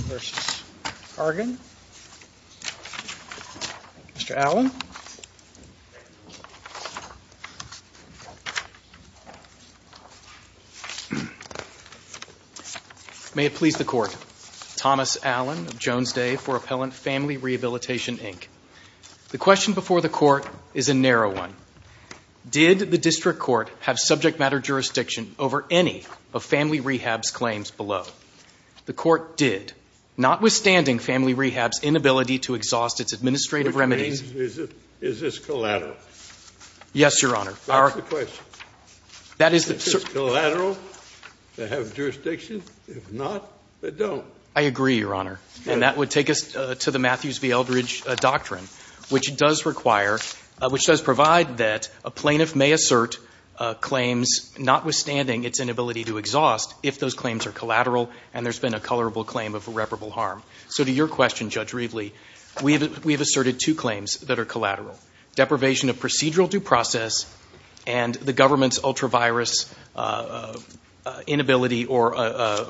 Mr. Allen. May it please the Court, Thomas Allen of Jones Day for Appellant, Family Rehabilitation, Inc. The question before the Court is a narrow one. Did the District Court have subject matter jurisdiction over any of Family Rehab's claims below? The Court did, notwithstanding Family Rehab's inability to exhaust its administrative Scalia. Which means, is this collateral? Yes, Your Honor. That's the question. That is the certain question. Is this collateral? They have jurisdiction? If not, they don't. I agree, Your Honor. And that would take us to the Matthews v. Eldridge doctrine, which does require — which does provide that a plaintiff may assert claims notwithstanding its inability to exhaust, if those claims are collateral and there's been a colorable claim of irreparable harm. So to your question, Judge Riedley, we have asserted two claims that are collateral. Deprivation of procedural due process and the government's ultravirus inability or,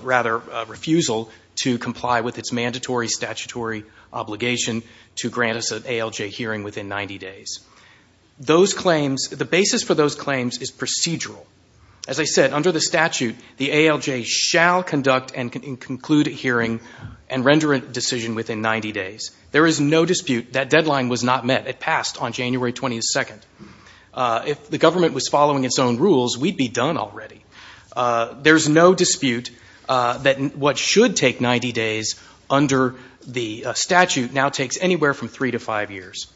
rather, refusal to comply with its mandatory statutory obligation to grant us an ALJ hearing within 90 days. Those claims — the basis for those claims is procedural. As I said, under the statute, the ALJ shall conduct and conclude a hearing and render a decision within 90 days. There is no dispute that deadline was not met. It passed on January 22nd. If the government was following its own rules, we'd be done already. There's no dispute that what should take 90 days under the statute now takes anywhere from three to five years.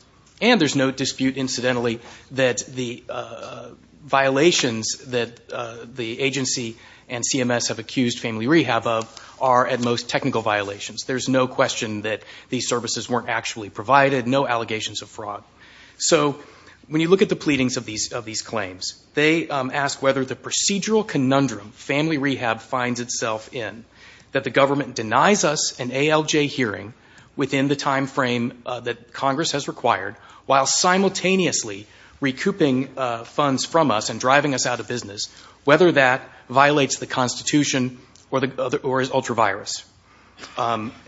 And there's no dispute, incidentally, that the violations that the agency and CMS have accused Family Rehab of are, at most, technical violations. There's no question that these services weren't actually provided, no allegations of fraud. So when you look at the pleadings of these claims, they ask whether the procedural conundrum Family Rehab finds itself in, that the government denies us an ALJ hearing within the time frame that Congress has required, while simultaneously recouping funds from us and driving us out of business, whether that violates the Constitution or is ultra-virus.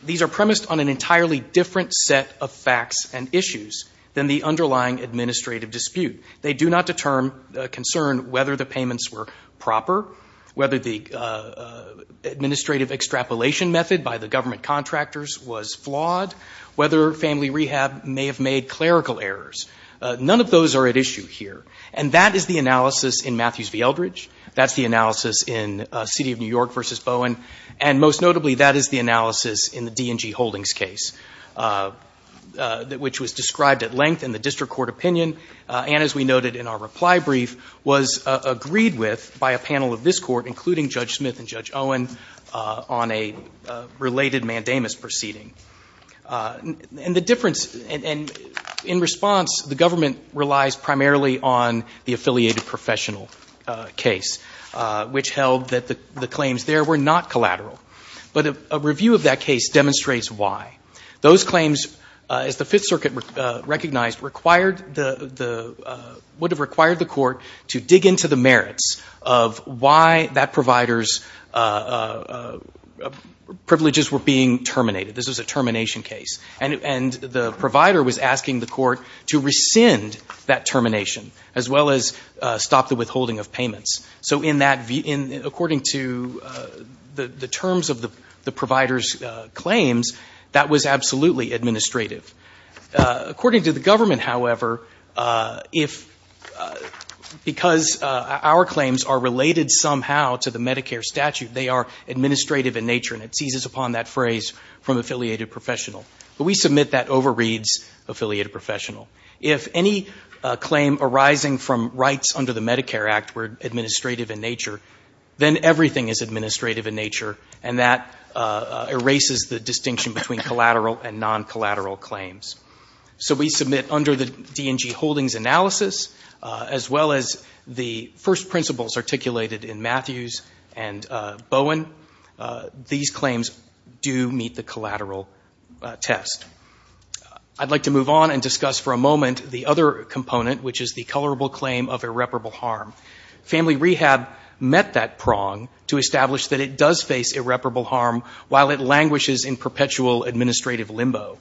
These are premised on an entirely different set of facts and issues than the underlying administrative dispute. They do not concern whether the payments were proper, whether the administrative extrapolation method by the government contractors was flawed, whether Family Rehab may have made clerical errors. None of those are at issue here. And that is the analysis in Matthews v. Eldridge. That's the analysis in City of New York v. Bowen. And most notably, that is the analysis in the D&G Holdings case, which was described at length in the district court opinion and, as we noted in our reply brief, was agreed with by a panel of this Owen on a related mandamus proceeding. And the difference, and in response, the government relies primarily on the affiliated professional case, which held that the claims there were not collateral. But a review of that case demonstrates why. Those claims, as the Fifth Circuit recognized, required the, would have required the court to dig into the merits of why that provider's privileges were being terminated. This was a termination case. And the provider was asking the court to rescind that termination, as well as stop the withholding of payments. So in that, according to the terms of the provider's claims, that was absolutely administrative. According to the government, however, if, because our claims are related somehow to the Medicare statute, they are administrative in nature, and it seizes upon that phrase from affiliated professional. But we submit that overreads affiliated professional. If any claim arising from rights under the Medicare Act were administrative in nature, then everything is administrative in nature. And that erases the distinction between collateral and non-collateral claims. So we submit under the D&G Holdings analysis, as well as the first principles articulated in Matthews and Bowen, these claims do meet the collateral test. I'd like to move on and discuss for a moment the other component, which is the colorable claim of irreparable harm. Family rehab met that prong to establish that it does face irreparable harm while it languishes in perpetual administrative limbo.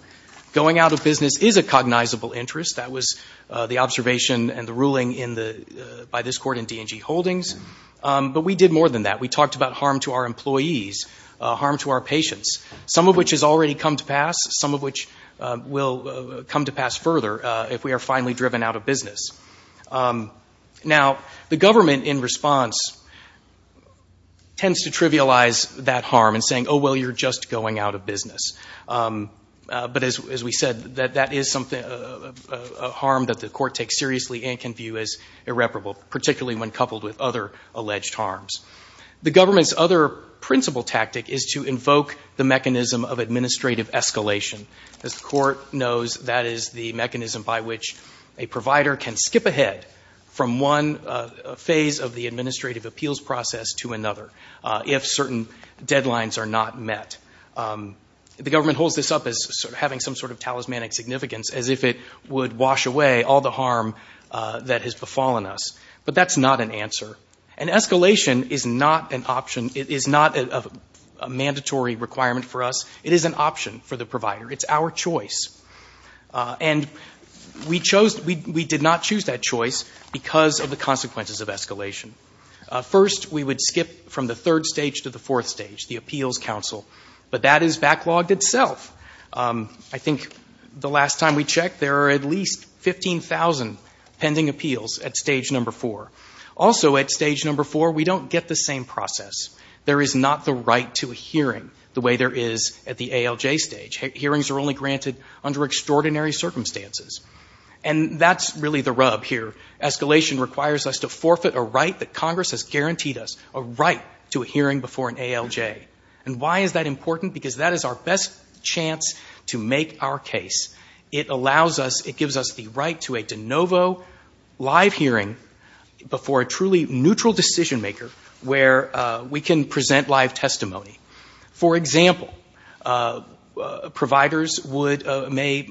Going out of business is a cognizable interest. That was the observation and the ruling by this court in D&G Holdings. But we did more than that. We talked about harm to our employees, harm to our patients, some of which has already come to pass, some of which will come to pass further if we are finally driven out of business. Now, the government in response tends to trivialize that harm in saying, oh, well, you're just going out of business. But as we said, that is something, a harm that the court takes seriously and can view as irreparable, particularly when coupled with other alleged harms. The government's other principle tactic is to invoke the mechanism of administrative escalation. As the court knows, that is the mechanism by which a provider can skip ahead from one phase of the administrative appeals process to another if certain deadlines are not met. The government holds this up as having some sort of talismanic significance, as if it would wash away all the harm that has befallen us. But that's not an answer. An escalation is not an option. It is not a mandatory requirement for us. It is an option for the provider. It's our choice. And we chose — we did not choose that choice because of the consequences of escalation. First we would skip from the third stage to the fourth stage, the appeals counsel. But that is backlogged itself. I think the last time we checked, there are at least 15,000 pending appeals at stage number four. Also at stage number four, we don't get the same process. There is not the right to a hearing the way there is at the ALJ stage. Hearings are only granted under extraordinary circumstances. And that's really the rub here. Escalation requires us to forfeit a right that Congress has guaranteed us, a right to a hearing before an ALJ. And why is that important? Because that is our best chance to make our case. It allows us — it gives us the right to a de novo live hearing before a truly neutral decision maker where we can present live testimony. For example, providers would — may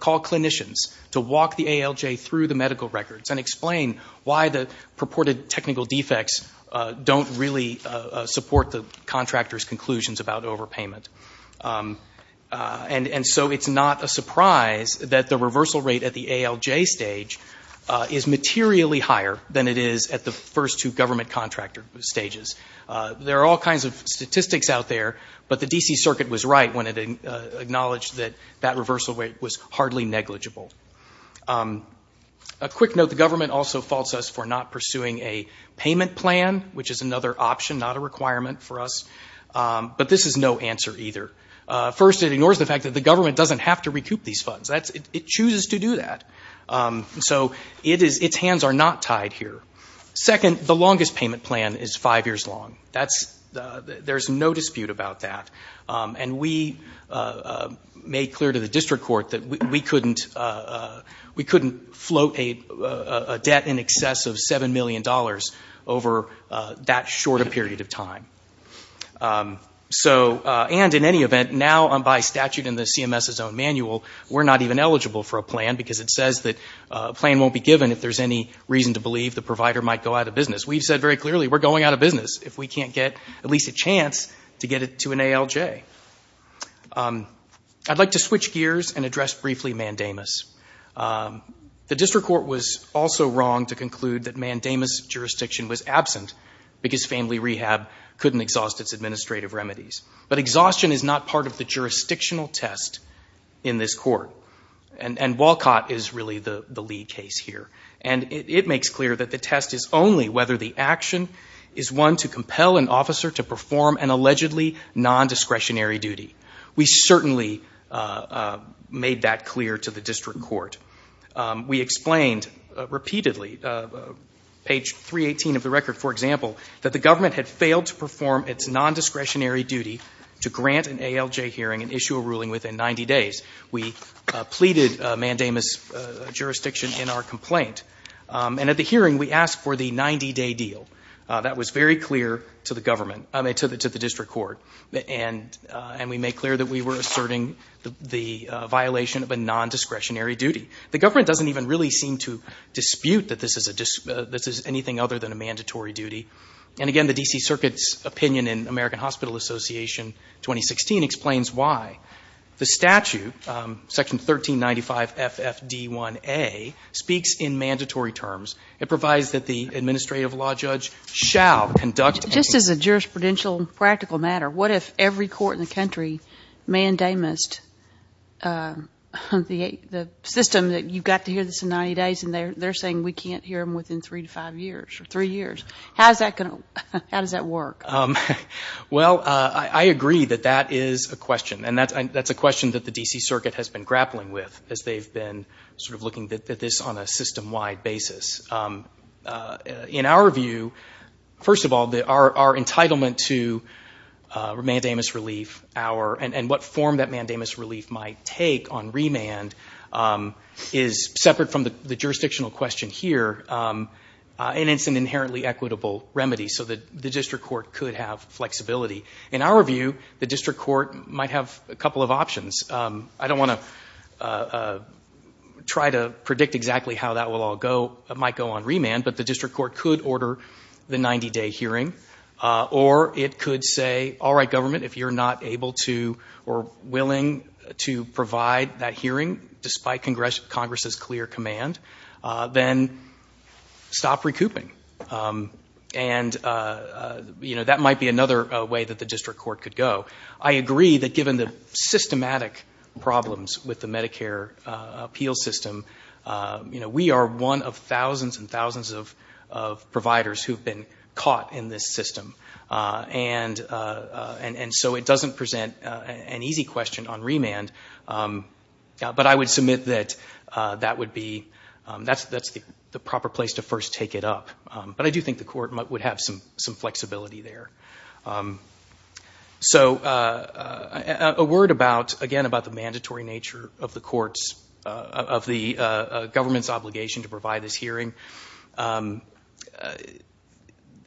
call clinicians to walk the ALJ through the medical records and explain why the purported technical defects don't really support the contractor's conclusions about overpayment. And so it's not a surprise that the reversal rate at the ALJ stage is materially higher than it is at the first two government contractor stages. There are all kinds of statistics out there, but the D.C. Circuit was right when it acknowledged that that reversal rate was hardly negligible. A quick note, the government also faults us for not pursuing a payment plan, which is another option, not a requirement for us. But this is no answer either. First, it ignores the fact that the government doesn't have to recoup these funds. It chooses to do that. So its hands are not tied here. Second, the longest payment plan is five years long. There's no dispute about that. And we made clear to the district court that we couldn't float a debt in excess of $7 million over that short a period of time. So and in any event, now by statute in the CMS's own manual, we're not even eligible for a plan because it says that a plan won't be given if there's any reason to believe the provider might go out of business. We've said very clearly we're going out of business if we can't get at least a chance to get it to an ALJ. I'd like to switch gears and address briefly Mandamus. The district court was also wrong to conclude that Mandamus jurisdiction was absent because family rehab couldn't exhaust its administrative remedies. But exhaustion is not part of the jurisdictional test in this court. And Walcott is really the lead case here. And it makes clear that the test is only whether the action is one to compel an officer to perform an allegedly non-discretionary duty. We certainly made that clear to the district court. We explained repeatedly, page 318 of the record, for example, that the government had failed to perform its non-discretionary duty to grant an ALJ hearing and issue a ruling within 90 days. We pleaded Mandamus jurisdiction in our complaint. And at the hearing, we asked for the 90-day deal. That was very clear to the government, I mean to the district court. And we made clear that we were asserting the violation of a non-discretionary duty. The government doesn't even really seem to dispute that this is anything other than a mandatory duty. And again, the D.C. Circuit's opinion in American Hospital Association 2016 explains why. The statute, section 1395 FFD1A, speaks in mandatory terms. It provides that the administrative law judge shall conduct... Just as a jurisprudential practical matter, what if every court in the country mandamused the system that you've got to hear this in 90 days, and they're saying we can't hear them within three to five years, or three years. How does that work? Well, I agree that that is a question. And that's a question that the D.C. Circuit has been grappling with as they've been sort of looking at this on a system-wide basis. In our view, first of all, our entitlement to Mandamus relief, and what form that Mandamus relief might take on remand, is separate from the jurisdictional question here. And it's an inherently equitable remedy, so that the district court could have flexibility. In our view, the district court might have a couple of options. I don't want to try to predict exactly how that will all go. It might go on remand, but the district court could order the 90-day hearing. Or it could say, all right, government, if you're not able to or willing to provide that hearing, despite Congress's clear command, then stop recouping. And that might be another way that the district court could go. I agree that given the systematic problems with the Medicare appeal system, we are one of thousands and thousands of providers who've been caught in this system. And so it doesn't present an easy question on remand. But I would submit that that's the proper place to first take it up. But I do think the court would have some flexibility there. So a word, again, about the mandatory nature of the courts, of the government's obligation to provide this hearing.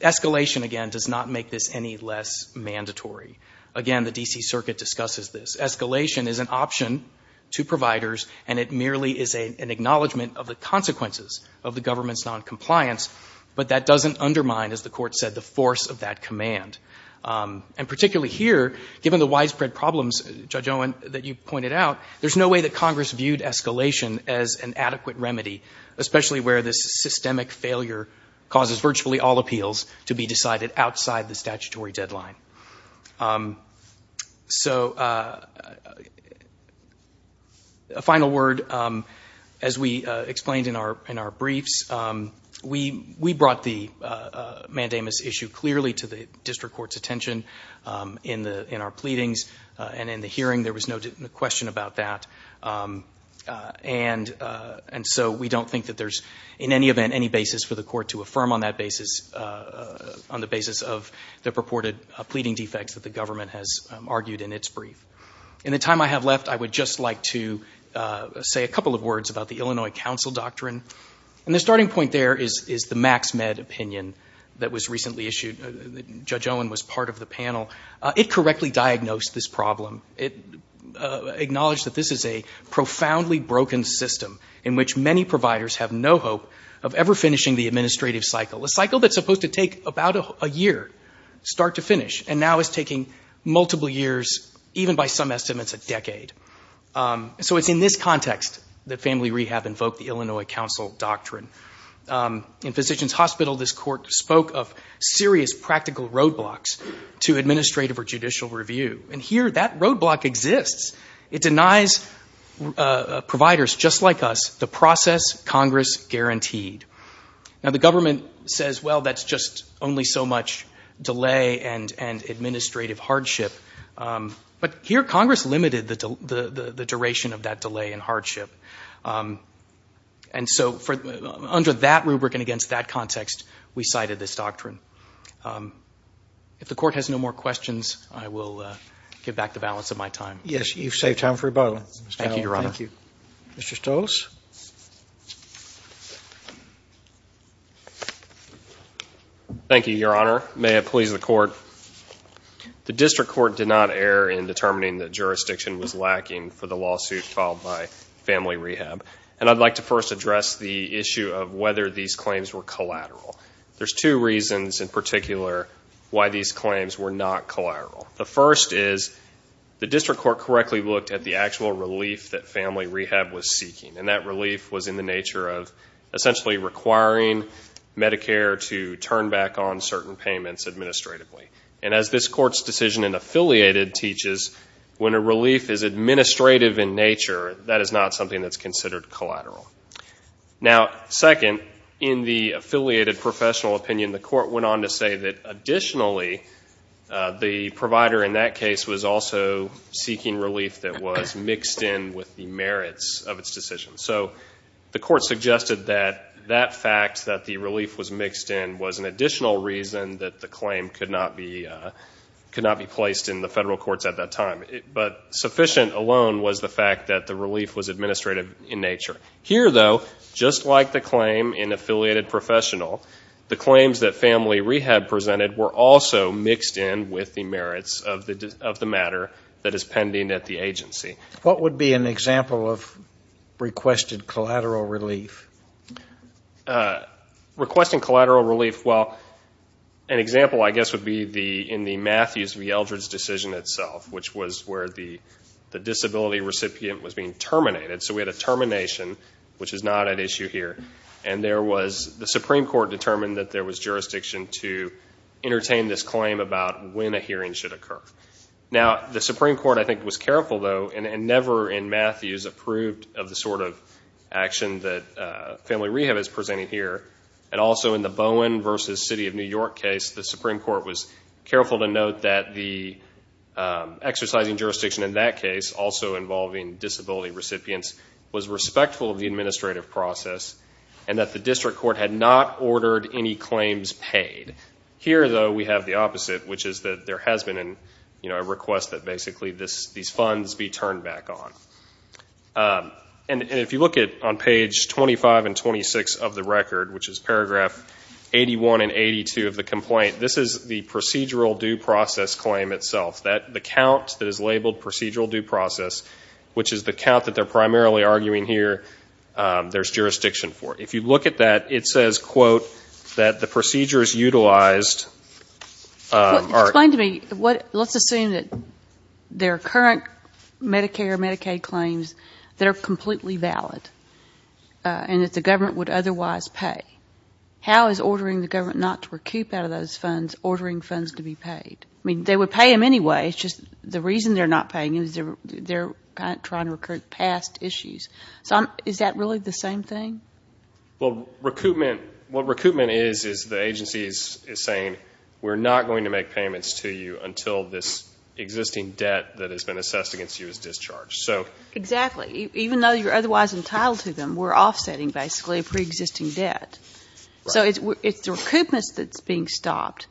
Escalation, again, does not make this any less mandatory. Again, the D.C. Circuit discusses this. Escalation is an option to providers, and it merely is an acknowledgment of the consequences of the government's noncompliance. But that doesn't undermine, as the court said, the force of that command. And particularly here, given the widespread problems, Judge Owen, that you pointed out, there's no way that Congress viewed escalation as an adequate remedy, especially where this systemic failure causes virtually all appeals to be decided outside the statutory deadline. So a final word. As we explained in our briefs, we brought the mandamus issue clearly to the district court's attention in our pleadings. And in the hearing, there was no question about that. And so we don't think that there's, in any event, any basis for the court to affirm on that basis, on the basis of the purported pleading defects that the government has argued in its brief. In the time I have left, I would just like to say a couple of words about the Illinois Council Doctrine. And the starting point there is the MaxMed opinion that was recently issued. Judge Owen was part of the panel. It correctly diagnosed this problem. It acknowledged that this is a profoundly broken system in which many providers have no hope of ever finishing the administrative cycle, a cycle that's supposed to take about a year, start to finish, and now is taking multiple years, even by some estimates, a decade. So it's in this context that Family Rehab invoked the Illinois Council Doctrine. In Physicians Hospital, this court spoke of serious practical roadblocks to administrative or judicial review. And here, that roadblock exists. It denies providers, just like us, the process Congress guaranteed. Now, the government says, well, that's just only so much delay and administrative hardship. But here, Congress limited the duration of that delay and hardship. And so, under that rubric and against that context, we cited this doctrine. If the Court has no more questions, I will give back the balance of my time. Yes, you've saved time for rebuttal. Thank you, Your Honor. Thank you. Mr. Stolz? Thank you, Your Honor. May it please the Court? The District Court did not err in determining that jurisdiction was lacking for the lawsuit filed by Family Rehab. And I'd like to first address the issue of whether these claims were collateral. There's two reasons, in particular, why these claims were not collateral. The first is, the District Court correctly looked at the actual relief that Family Rehab was seeking. And that relief was in the nature of essentially requiring Medicare to turn back on certain payments administratively. And as this Court's decision in Affiliated teaches, when a relief is administrative in nature, that is not something that's considered collateral. Now, second, in the Affiliated Professional Opinion, the Court went on to say that, additionally, the provider in that case was also seeking relief that was mixed in with the merits of its decision. So the Court suggested that that fact, that the relief was mixed in, was an additional reason that the claim could not be placed in the federal courts at that time. But sufficient alone was the fact that the relief was administrative in nature. Here, though, just like the claim in Affiliated Professional, the claims that Family Rehab presented were also mixed in with the merits of the matter that is pending at the agency. What would be an example of requested collateral relief? Requesting collateral relief, well, an example, I guess, would be in the Matthews v. Eldredge decision itself, which was where the disability recipient was being terminated. So we had a termination, which is not at issue here. And there was, the Supreme Court determined that there was jurisdiction to entertain this claim about when a hearing should occur. Now, the Supreme Court, I think, was careful, though, and never in Matthews approved of the sort of action that Family Rehab is presenting here. And also in the Bowen v. City of New York case, the Supreme Court was careful to note that the exercising jurisdiction in that case, also involving disability recipients, was respectful of the administrative process and that the district court had not ordered any claims paid. Here, though, we have the opposite, which is that there has been a request that basically these funds be turned back on. And if you look on page 25 and 26 of the record, which is paragraph 81 and 82 of the complaint, this is the procedural due process claim itself. The count that is labeled procedural due process, which is the count that they're primarily arguing here there's jurisdiction for. If you look at that, it says, quote, that the procedures utilized are Explain to me, let's assume that there are current Medicare, Medicaid claims that are completely valid and that the government would otherwise pay. How is ordering the government not to recoup out of those funds ordering funds to be paid? I mean, they would pay them anyway. It's just the reason they're not paying is they're kind of trying to recruit past issues. So is that really the same thing? Well, recoupment, what recoupment is, is the agency is saying, we're not going to make payments to you until this existing debt that has been assessed against you is discharged. So Exactly. Even though you're otherwise entitled to them, we're offsetting basically a pre-existing debt. So it's, it's the recoupments that's being stopped,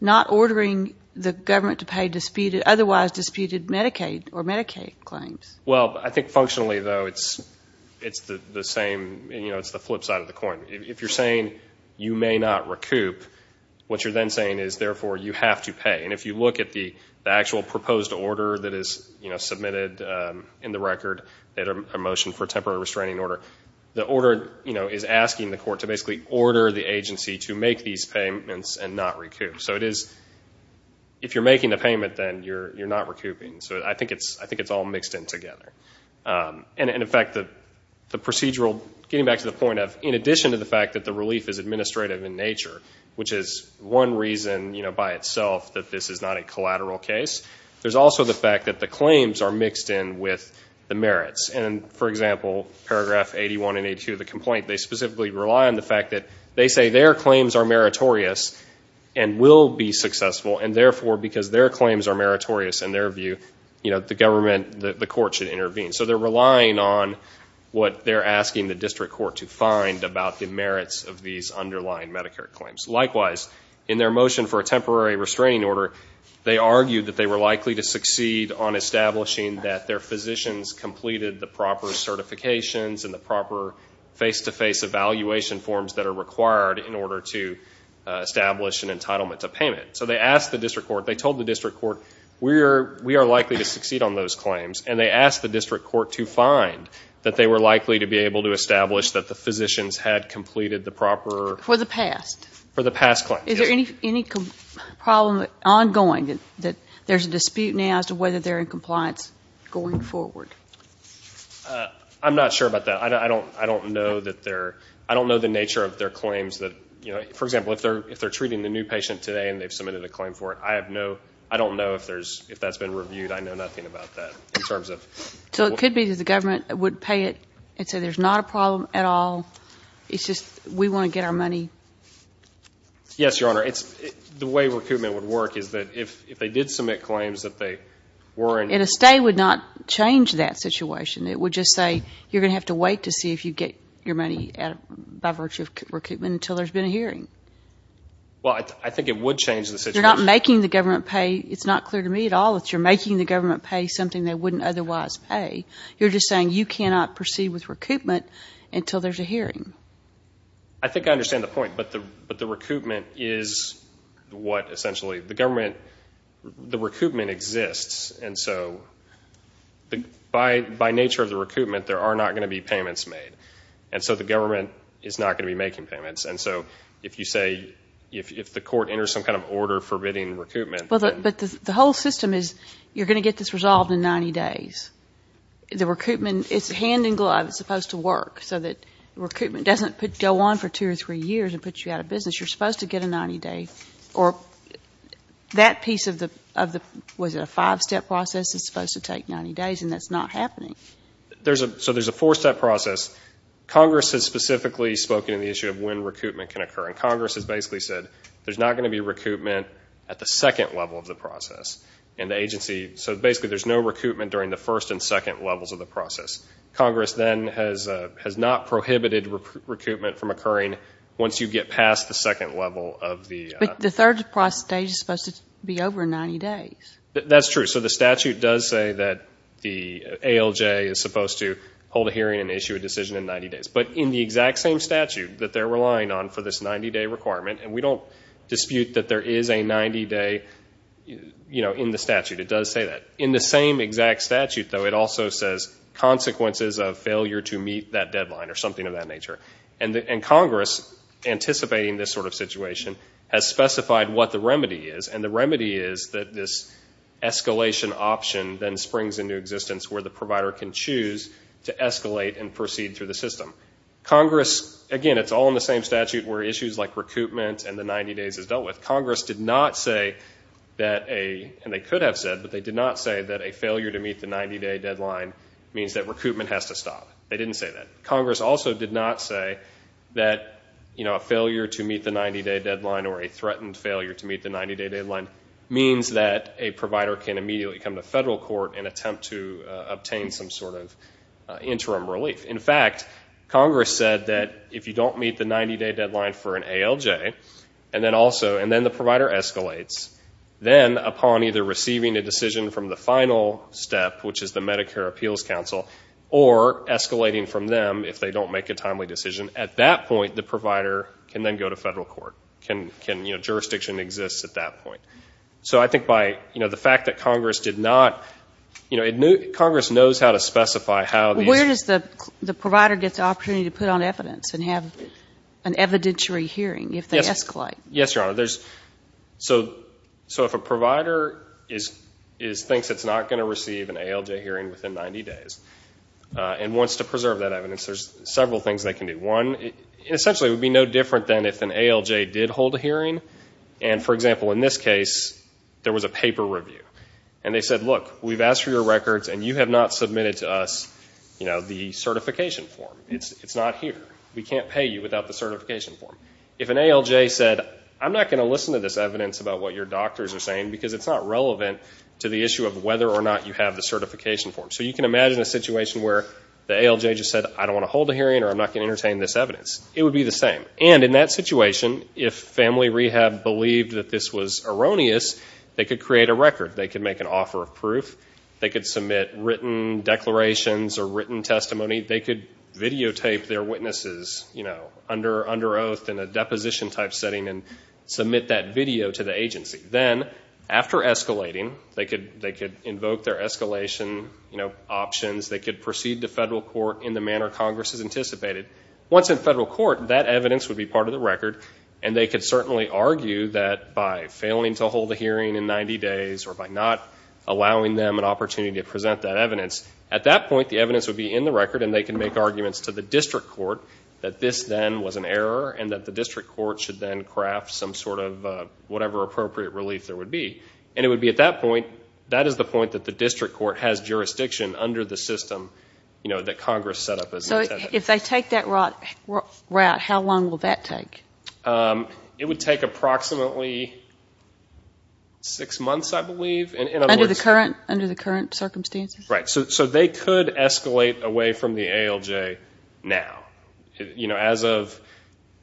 not ordering the government to pay disputed, otherwise disputed Medicaid or Medicaid claims. Well, I think functionally though, it's, it's the same, you know, it's the flip side of the coin. If you're saying you may not recoup, what you're then saying is therefore you have to pay. And if you look at the actual proposed order that is, you know, submitted in the record that a motion for temporary restraining order, the order, you know, is asking the court to basically order the agency to make these payments and not recoup. So it is, if you're making a payment, then you're, you're not recouping. So I think it's, I think it's all mixed in together. And in fact, the, the procedural, getting back to the point of, in addition to the fact that the relief is administrative in nature, which is one reason, you know, by itself that this is not a collateral case, there's also the fact that the claims are mixed in with the merits. And for example, paragraph 81 and 82 of the complaint, they specifically rely on the fact that they say their claims are meritorious and will be successful. And therefore, because their claims are meritorious in their view, you know, the government, the court should intervene. So they're relying on what they're asking the district court to find about the merits of these underlying Medicare claims. Likewise, in their motion for a temporary restraining order, they argued that they were the proper certifications and the proper face-to-face evaluation forms that are required in order to establish an entitlement to payment. So they asked the district court, they told the district court, we are, we are likely to succeed on those claims. And they asked the district court to find that they were likely to be able to establish that the physicians had completed the proper. For the past. For the past claims, yes. Is there any, any problem ongoing that, that there's a dispute now as to whether they're in compliance going forward? I'm not sure about that. I don't, I don't know that they're, I don't know the nature of their claims that, you know, for example, if they're, if they're treating the new patient today and they've submitted a claim for it, I have no, I don't know if there's, if that's been reviewed, I know nothing about that in terms of. So it could be that the government would pay it and say, there's not a problem at all. It's just, we want to get our money. Yes, Your Honor. It's the way recoupment would work is that if, if they did submit claims that they were. And a stay would not change that situation. It would just say, you're going to have to wait to see if you get your money by virtue of recoupment until there's been a hearing. Well, I think it would change the situation. You're not making the government pay. It's not clear to me at all that you're making the government pay something they wouldn't otherwise pay. You're just saying you cannot proceed with recoupment until there's a hearing. I think I understand the point, but the, but the recoupment is what essentially, the government, the recoupment exists. And so the, by, by nature of the recoupment, there are not going to be payments made. And so the government is not going to be making payments. And so if you say, if, if the court enters some kind of order forbidding recoupment. Well, but the whole system is you're going to get this resolved in 90 days. The recoupment, it's hand in glove. It's supposed to work so that recoupment doesn't go on for two or three years and put you out of business. You're supposed to get a 90 day or that piece of the, of the, was it a five step process? It's supposed to take 90 days and that's not happening. There's a, so there's a four step process. Congress has specifically spoken in the issue of when recoupment can occur. And Congress has basically said, there's not going to be recoupment at the second level of the process and the agency. So basically there's no recoupment during the first and second levels of the process. Congress then has, has not prohibited recoupment from occurring once you get past the second level of the. But the third process stage is supposed to be over 90 days. That's true. So the statute does say that the ALJ is supposed to hold a hearing and issue a decision in 90 days. But in the exact same statute that they're relying on for this 90 day requirement, and we don't dispute that there is a 90 day, you know, in the statute, it does say that. In the same exact statute though, it also says consequences of failure to meet that deadline or something of that nature. And Congress, anticipating this sort of situation, has specified what the remedy is. And the remedy is that this escalation option then springs into existence where the provider can choose to escalate and proceed through the system. Congress, again, it's all in the same statute where issues like recoupment and the 90 days is dealt with. Congress did not say that a, and they could have said, but they did not say that a failure to meet the 90 day deadline means that recoupment has to stop. They didn't say that. Congress also did not say that, you know, a failure to meet the 90 day deadline or a threatened failure to meet the 90 day deadline means that a provider can immediately come to federal court and attempt to obtain some sort of interim relief. In fact, Congress said that if you don't meet the 90 day deadline for an ALJ, and then also, the final step, which is the Medicare Appeals Council, or escalating from them if they don't make a timely decision, at that point, the provider can then go to federal court. Jurisdiction exists at that point. So I think by, you know, the fact that Congress did not, you know, Congress knows how to specify how these Where does the provider get the opportunity to put on evidence and have an evidentiary hearing if they escalate? Yes, Your Honor. So if a provider thinks it's not going to receive an ALJ hearing within 90 days and wants to preserve that evidence, there's several things they can do. One, essentially it would be no different than if an ALJ did hold a hearing and, for example, in this case, there was a paper review. And they said, look, we've asked for your records and you have not submitted to us, you know, the certification form. It's not here. We can't pay you without the certification form. If an ALJ said, I'm not going to listen to this evidence about what your doctors are saying because it's not relevant to the issue of whether or not you have the certification form. So you can imagine a situation where the ALJ just said, I don't want to hold a hearing or I'm not going to entertain this evidence. It would be the same. And in that situation, if family rehab believed that this was erroneous, they could create a record. They could make an offer of proof. They could submit written declarations or written testimony. They could videotape their witnesses, you know, under oath in a deposition type setting and submit that video to the agency. Then, after escalating, they could invoke their escalation, you know, options. They could proceed to federal court in the manner Congress has anticipated. Once in federal court, that evidence would be part of the record. And they could certainly argue that by failing to hold a hearing in 90 days or by not allowing them an opportunity to present that evidence, at that point the evidence would be in the record and they could make arguments to the district court that this then was an error and that the district court should then craft some sort of whatever appropriate relief there would be. And it would be at that point, that is the point that the district court has jurisdiction under the system, you know, that Congress set up as intended. So if they take that route, how long will that take? It would take approximately six months, I believe. Under the current circumstances? Right. So they could escalate away from the ALJ now. You know, as of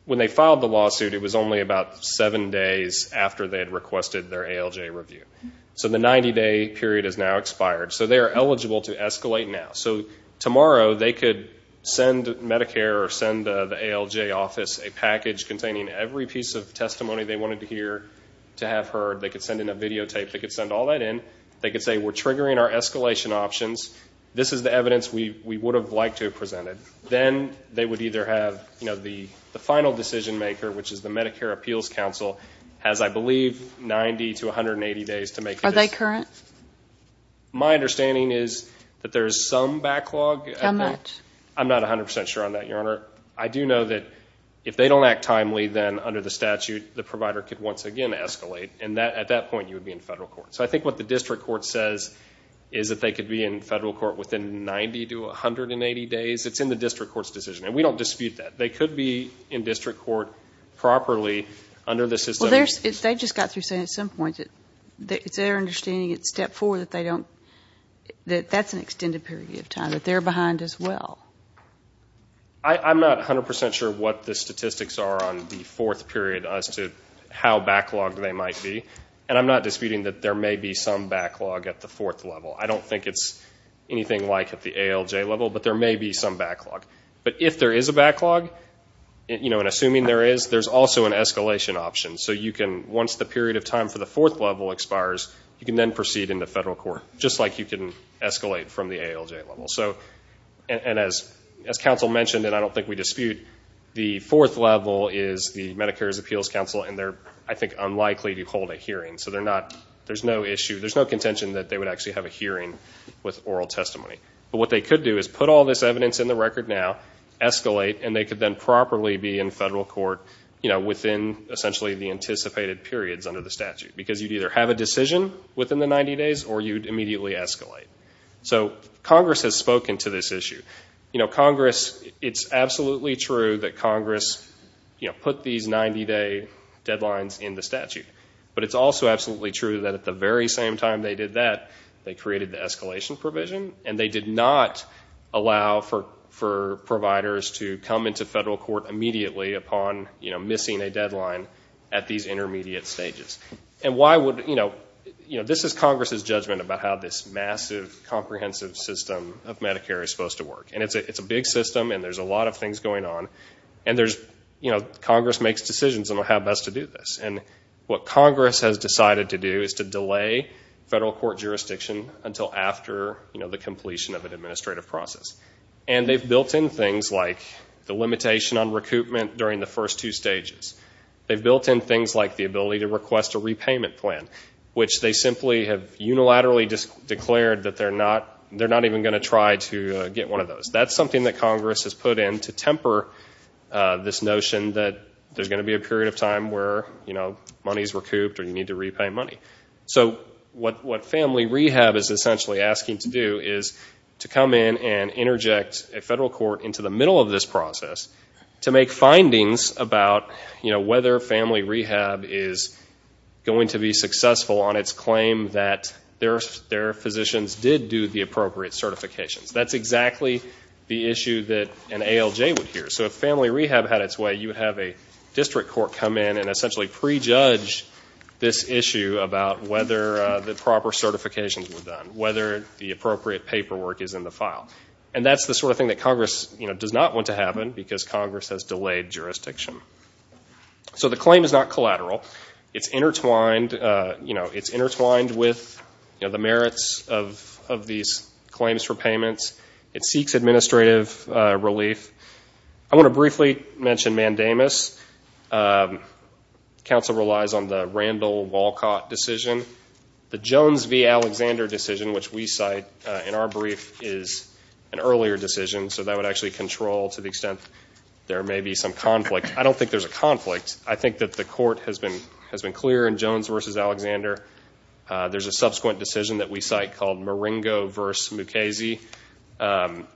when they filed the lawsuit, it was only about seven days after they had requested their ALJ review. So the 90-day period has now expired. So they are eligible to escalate now. So tomorrow they could send Medicare or send the ALJ office a package containing every piece of testimony they wanted to hear to have heard. They could send in a videotape. They could send all that in. They could say, we're triggering our escalation options. This is the evidence we would have liked to have presented. Then they would either have, you know, the final decision maker, which is the Medicare Appeals Council, has, I believe, 90 to 180 days to make a decision. Are they current? My understanding is that there is some backlog. How much? I'm not 100% sure on that, Your Honor. I do know that if they don't act timely, then under the statute, the provider could once again escalate. At that point, you would be in federal court. So I think what the district court says is that they could be in federal court within 90 to 180 days. It's in the district court's decision. And we don't dispute that. They could be in district court properly under the system. Well, they just got through saying at some point that it's their understanding at step four that they don't, that that's an extended period of time, that they're behind as well. I'm not 100% sure what the statistics are on the fourth period as to how backlogged they might be. And I'm not disputing that there may be some backlog at the fourth level. I don't think it's anything like at the ALJ level, but there may be some backlog. But if there is a backlog, and assuming there is, there's also an escalation option. So you can, once the period of time for the fourth level expires, you can then proceed into federal court, just like you can escalate from the ALJ level. And as counsel mentioned, and I don't think we dispute, the fourth level is the Medicare's Appeals Counsel, and they're, I think, unlikely to hold a hearing. So they're not, there's no issue, there's no contention that they would actually have a hearing with oral testimony. But what they could do is put all this evidence in the record now, escalate, and they could then properly be in federal court within, essentially, the anticipated periods under the statute. Because you'd either have a decision within the 90 days, or you'd immediately escalate. So Congress has spoken to this issue. Congress, it's absolutely true that Congress put these 90-day deadlines in the statute. But it's also absolutely true that at the very same time they did that, they created the escalation provision. And they did not allow for providers to come into federal court immediately upon missing a deadline at these intermediate stages. And why would, you know, this is Congress's judgment about how this massive, comprehensive system of Medicare is supposed to work. And it's a big system, and there's a lot of things going on. And there's, you know, Congress makes decisions on how best to do this. And what Congress has decided to do is to delay federal court jurisdiction until after, you know, the completion of an administrative process. And they've built in things like the limitation on recoupment during the first two stages. They've built in things like the ability to request a repayment plan, which they simply have unilaterally declared that they're not, you know, not even going to try to get one of those. That's something that Congress has put in to temper this notion that there's going to be a period of time where, you know, money is recouped or you need to repay money. So what family rehab is essentially asking to do is to come in and interject a federal court into the middle of this process to make findings about, you know, whether family rehab is going to be done, whether the appropriate paperwork is in the file. And that's the sort of thing that Congress, you know, does not want to happen because Congress has delayed jurisdiction. So the claim is not collateral. It's intertwined, you know, it's intertwined with, you know, the merits of these claims for payments. It seeks administrative relief. I want to briefly mention Mandamus. Council relies on the Randall Walcott decision. The Jones v. Alexander decision, which we cite in our brief, is an earlier decision. So that would actually control to the extent there may be some conflict. I don't think there's a conflict. I think that the there's a subsequent decision that we cite called Maringo v. Mukasey,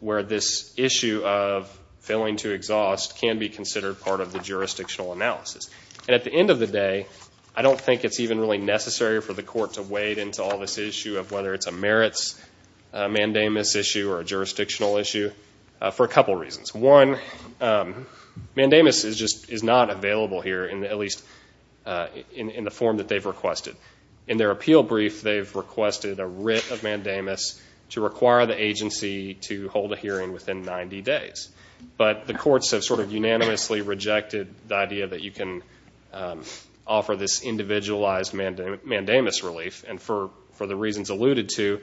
where this issue of failing to exhaust can be considered part of the jurisdictional analysis. And at the end of the day, I don't think it's even really necessary for the court to wade into all this issue of whether it's a merits Mandamus issue or a jurisdictional issue for a couple reasons. One, Mandamus is not available here, at least in the form that they've requested. In their appeal brief, they've requested a writ of Mandamus to require the agency to hold a hearing within 90 days. But the courts have sort of unanimously rejected the idea that you can offer this individualized Mandamus relief. And for the reasons alluded to,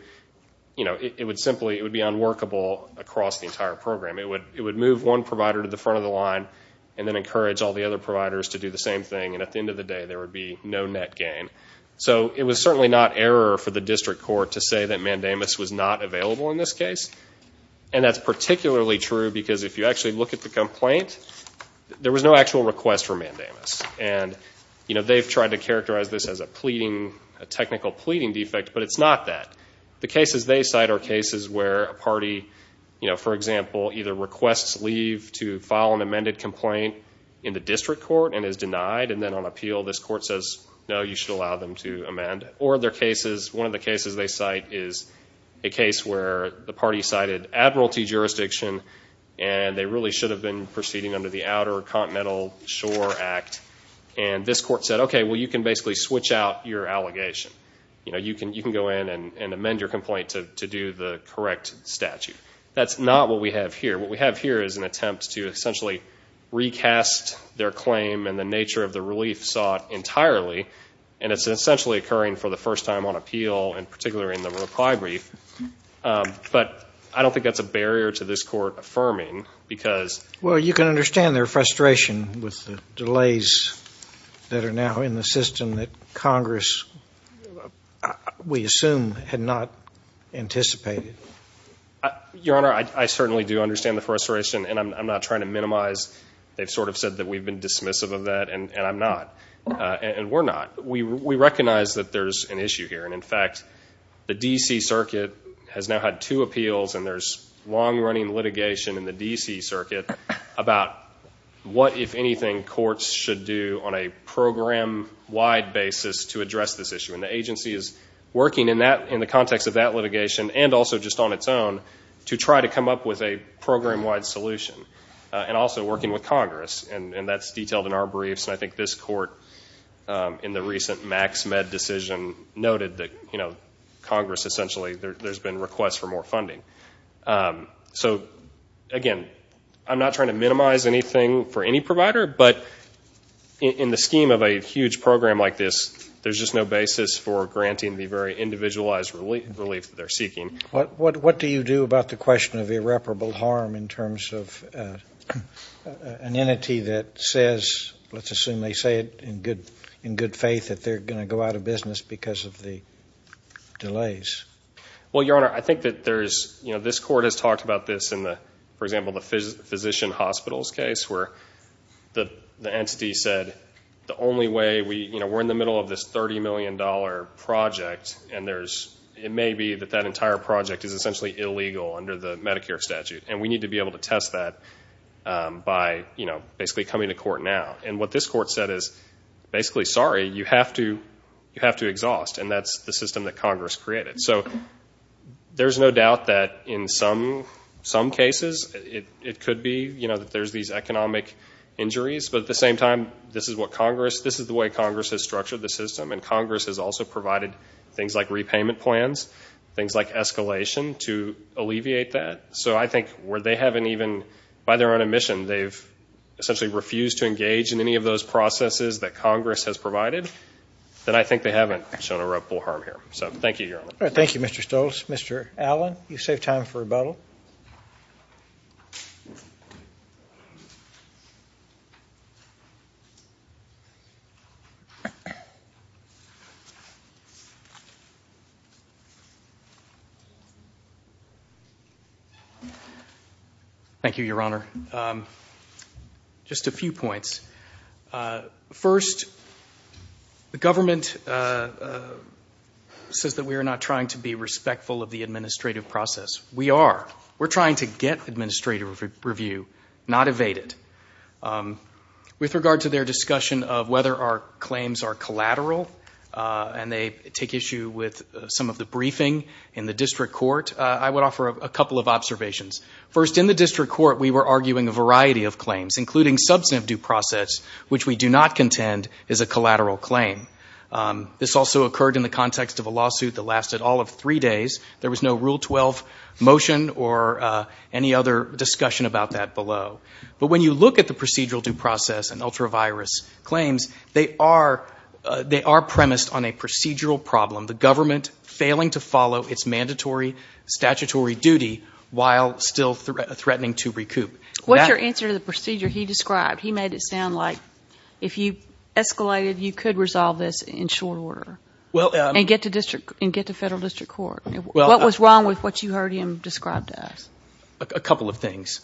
you know, it would simply be unworkable across the entire program. It would move one provider to the front of the line and then encourage all the other providers to do the same thing. And at the end of the day, there would be no net gain. So it was certainly not error for the district court to say that Mandamus was not available in this case. And that's particularly true because if you actually look at the complaint, there was no actual request for Mandamus. And they've tried to characterize this as a pleading, a technical pleading defect, but it's not that. The cases they cite are cases where a party, for example, either requests leave to file an amended complaint in the district court and is denied. And then on appeal, this court says, no, you should allow them to amend. Or one of the cases they cite is a case where the party cited admiralty jurisdiction and they really should have been proceeding under the Outer Allegation. You know, you can go in and amend your complaint to do the correct statute. That's not what we have here. What we have here is an attempt to essentially recast their claim and the nature of the relief sought entirely. And it's essentially occurring for the first time on appeal and particularly in the reply brief. But I don't think that's a barrier to this court affirming because... Well, you can understand their frustration with the delays that are now in the system that Congress, we assume, had not anticipated. Your Honor, I certainly do understand the frustration, and I'm not trying to minimize. They've sort of said that we've been dismissive of that, and I'm not. And we're not. We recognize that there's an issue here. And in fact, the D.C. Circuit has now had two appeals and there's long-running litigation in the D.C. Circuit about what, if anything, courts should do on a program-wide basis to address this issue. And the agency is working in the context of that litigation and also just on its own to try to come up with a program-wide solution. And also working with Congress. And that's detailed in our briefs. And I think this court, in the recent MaxMed decision, noted that Congress essentially, there's been requests for more funding. So, again, I'm not trying to minimize anything for any provider, but in the scheme of a huge program like this, there's just no basis for granting the very individualized relief that they're seeking. What do you do about the question of irreparable harm in terms of an entity that says, let's assume they say it in good faith, that they're going to go out of business because of the delays? Well, Your Honor, I think that there's, you know, this court has talked about this in the, for example, the Physician Hospitals case where the entity said, the only way we, you know, we're in the middle of this $30 million project and there's, it may be that that entire project is essentially illegal under the Medicare statute. And we need to be able to test that by, you know, basically coming to court now. And what this court said is, basically, sorry, you have to exhaust. And that's the system that Congress created. So there's no doubt that in some cases it could be, you know, that there's these economic injuries. But at the same time, this is what Congress, this is the way Congress has structured the system. And Congress has also provided things like repayment plans, things like escalation to alleviate that. So I think where they haven't even, by their own admission, they've essentially refused to engage in any of those processes that Congress has provided, then I think they haven't shown irreparable harm here. So thank you, Your Honor. Thank you, Mr. Stoltz. Mr. Allen, you save time for rebuttal. Thank you, Your Honor. Just a few points. First, the government says that we are not trying to be respectful of the administrative process. We are. We're trying to get administrative review, not evade it. With regard to their discussion of whether our claims are collateral and they take issue with some of the briefing in the district court, I would offer a couple of observations. First, in the district court, we were arguing a variety of claims, including substantive due process, which we do not contend is a collateral claim. This also occurred in the context of a lawsuit that lasted all of three days. There was no Rule 12 motion or any other discussion about that below. But when you look at the procedural due process and ultra virus claims, they are premised on a procedural problem, the government failing to follow its mandatory statutory duty while still threatening to recoup. What's your answer to the procedure he described? He made it sound like if you escalated, you could resolve this in short order and get to federal district court. What was wrong with what you heard him describe to us? A couple of things.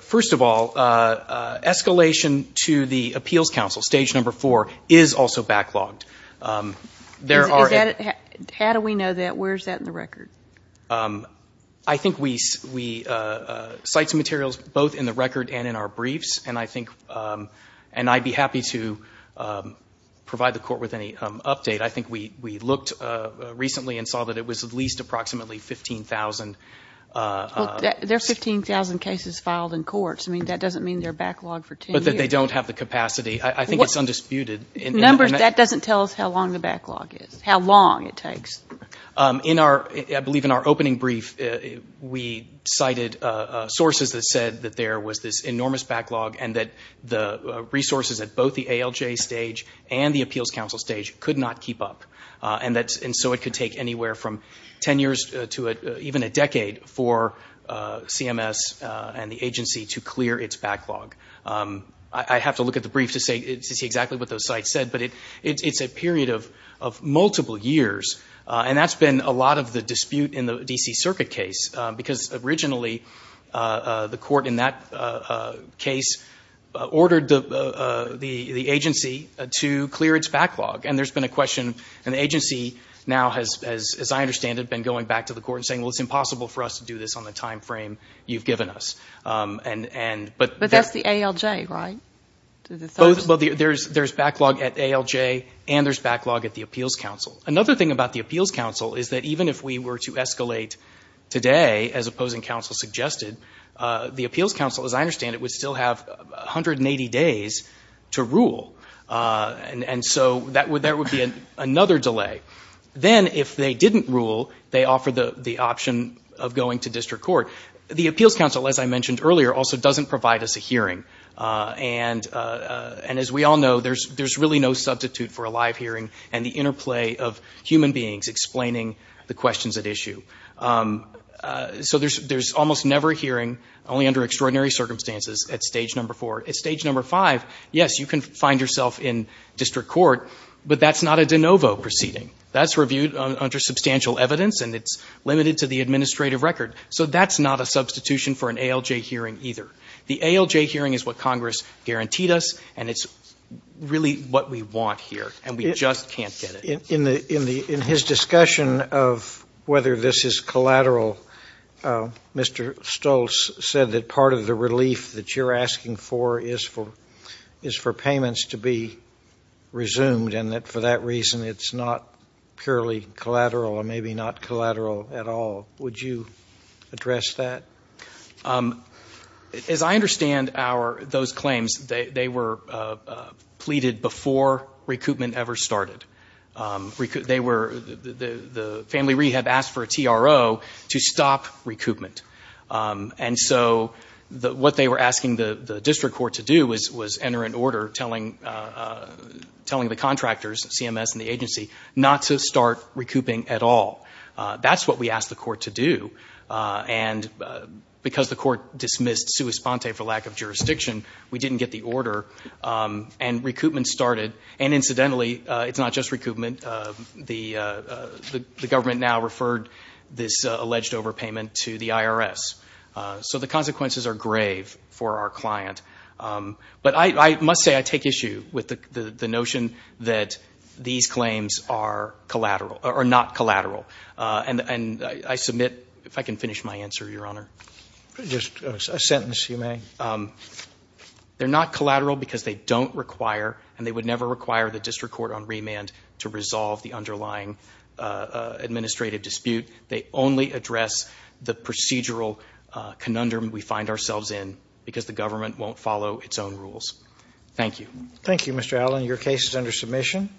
First of all, escalation to the appeals council, stage number four, is also backlogged. How do we know that? Where is that in the record? I think we cite some materials both in the record and in our briefs. And I'd be happy to provide the court with any update. I think we looked recently and saw that it was at least approximately 15,000. There are 15,000 cases filed in courts. That doesn't mean they're backlogged for 10 years. But that they don't have the capacity. I think it's undisputed. That doesn't tell us how long the backlog is, how long it takes. I believe in our opening brief, we cited sources that said that there was this enormous backlog that the DLJ stage and the appeals council stage could not keep up. And so it could take anywhere from 10 years to even a decade for CMS and the agency to clear its backlog. I'd have to look at the brief to see exactly what those sites said. But it's a period of multiple years. And that's been a lot of the dispute in the D.C. Circuit case. Because originally, the court in that case ordered the agency to clear its backlog. And there's been a question. And the agency now, as I understand it, has been going back to the court and saying, well, it's impossible for us to do this on the time frame you've given us. But that's the ALJ, right? Well, there's backlog at ALJ and there's backlog at the appeals council. Another thing about the appeals council is that even if we were to escalate today, as opposing counsel suggested, the appeals council, as I understand it, would still have 180 days to rule. And so there would be another delay. Then, if they didn't rule, they offer the option of going to district court. The appeals council, as I mentioned earlier, also doesn't provide us a hearing. And as we all know, there's really no substitute for a live hearing and the interplay of human beings explaining the questions at issue. So there's almost never a hearing, only under extraordinary circumstances, at stage number four. At stage number five, yes, you can find yourself in district court, but that's not a de novo proceeding. That's reviewed under substantial evidence and it's limited to the administrative record. So that's not a substitution for an ALJ hearing either. The ALJ hearing is what Congress guaranteed us, and it's really what we want here, and we just can't get it. In his discussion of whether this is collateral, Mr. Stoltz said that part of the relief that you're asking for is for payments to be resumed, and that for that reason it's not purely collateral or maybe not collateral at all. Would you address that? As I understand those claims, they were pleaded before recoupment ever started. The family rehab asked for a TRO to stop recoupment. And so what they were asking the district court to do was enter an order telling the contractors, CMS and the agency, not to start recouping at all. That's what we asked the court to do, and because the court dismissed sua sponte for lack of jurisdiction, we didn't get the order, and recoupment started. And incidentally, it's not just recoupment. The government now referred this alleged overpayment to the IRS. So the consequences are grave for our client. But I must say I take issue with the notion that these claims are collateral or not collateral, and I submit, if I can finish my answer, Your Honor. Just a sentence, if you may. They're not collateral because they don't require and they would never require the district court on remand to resolve the underlying administrative dispute. They only address the procedural conundrum we find ourselves in because the government won't follow its own rules. Thank you. Thank you, Mr. Allen. Your case is under submission.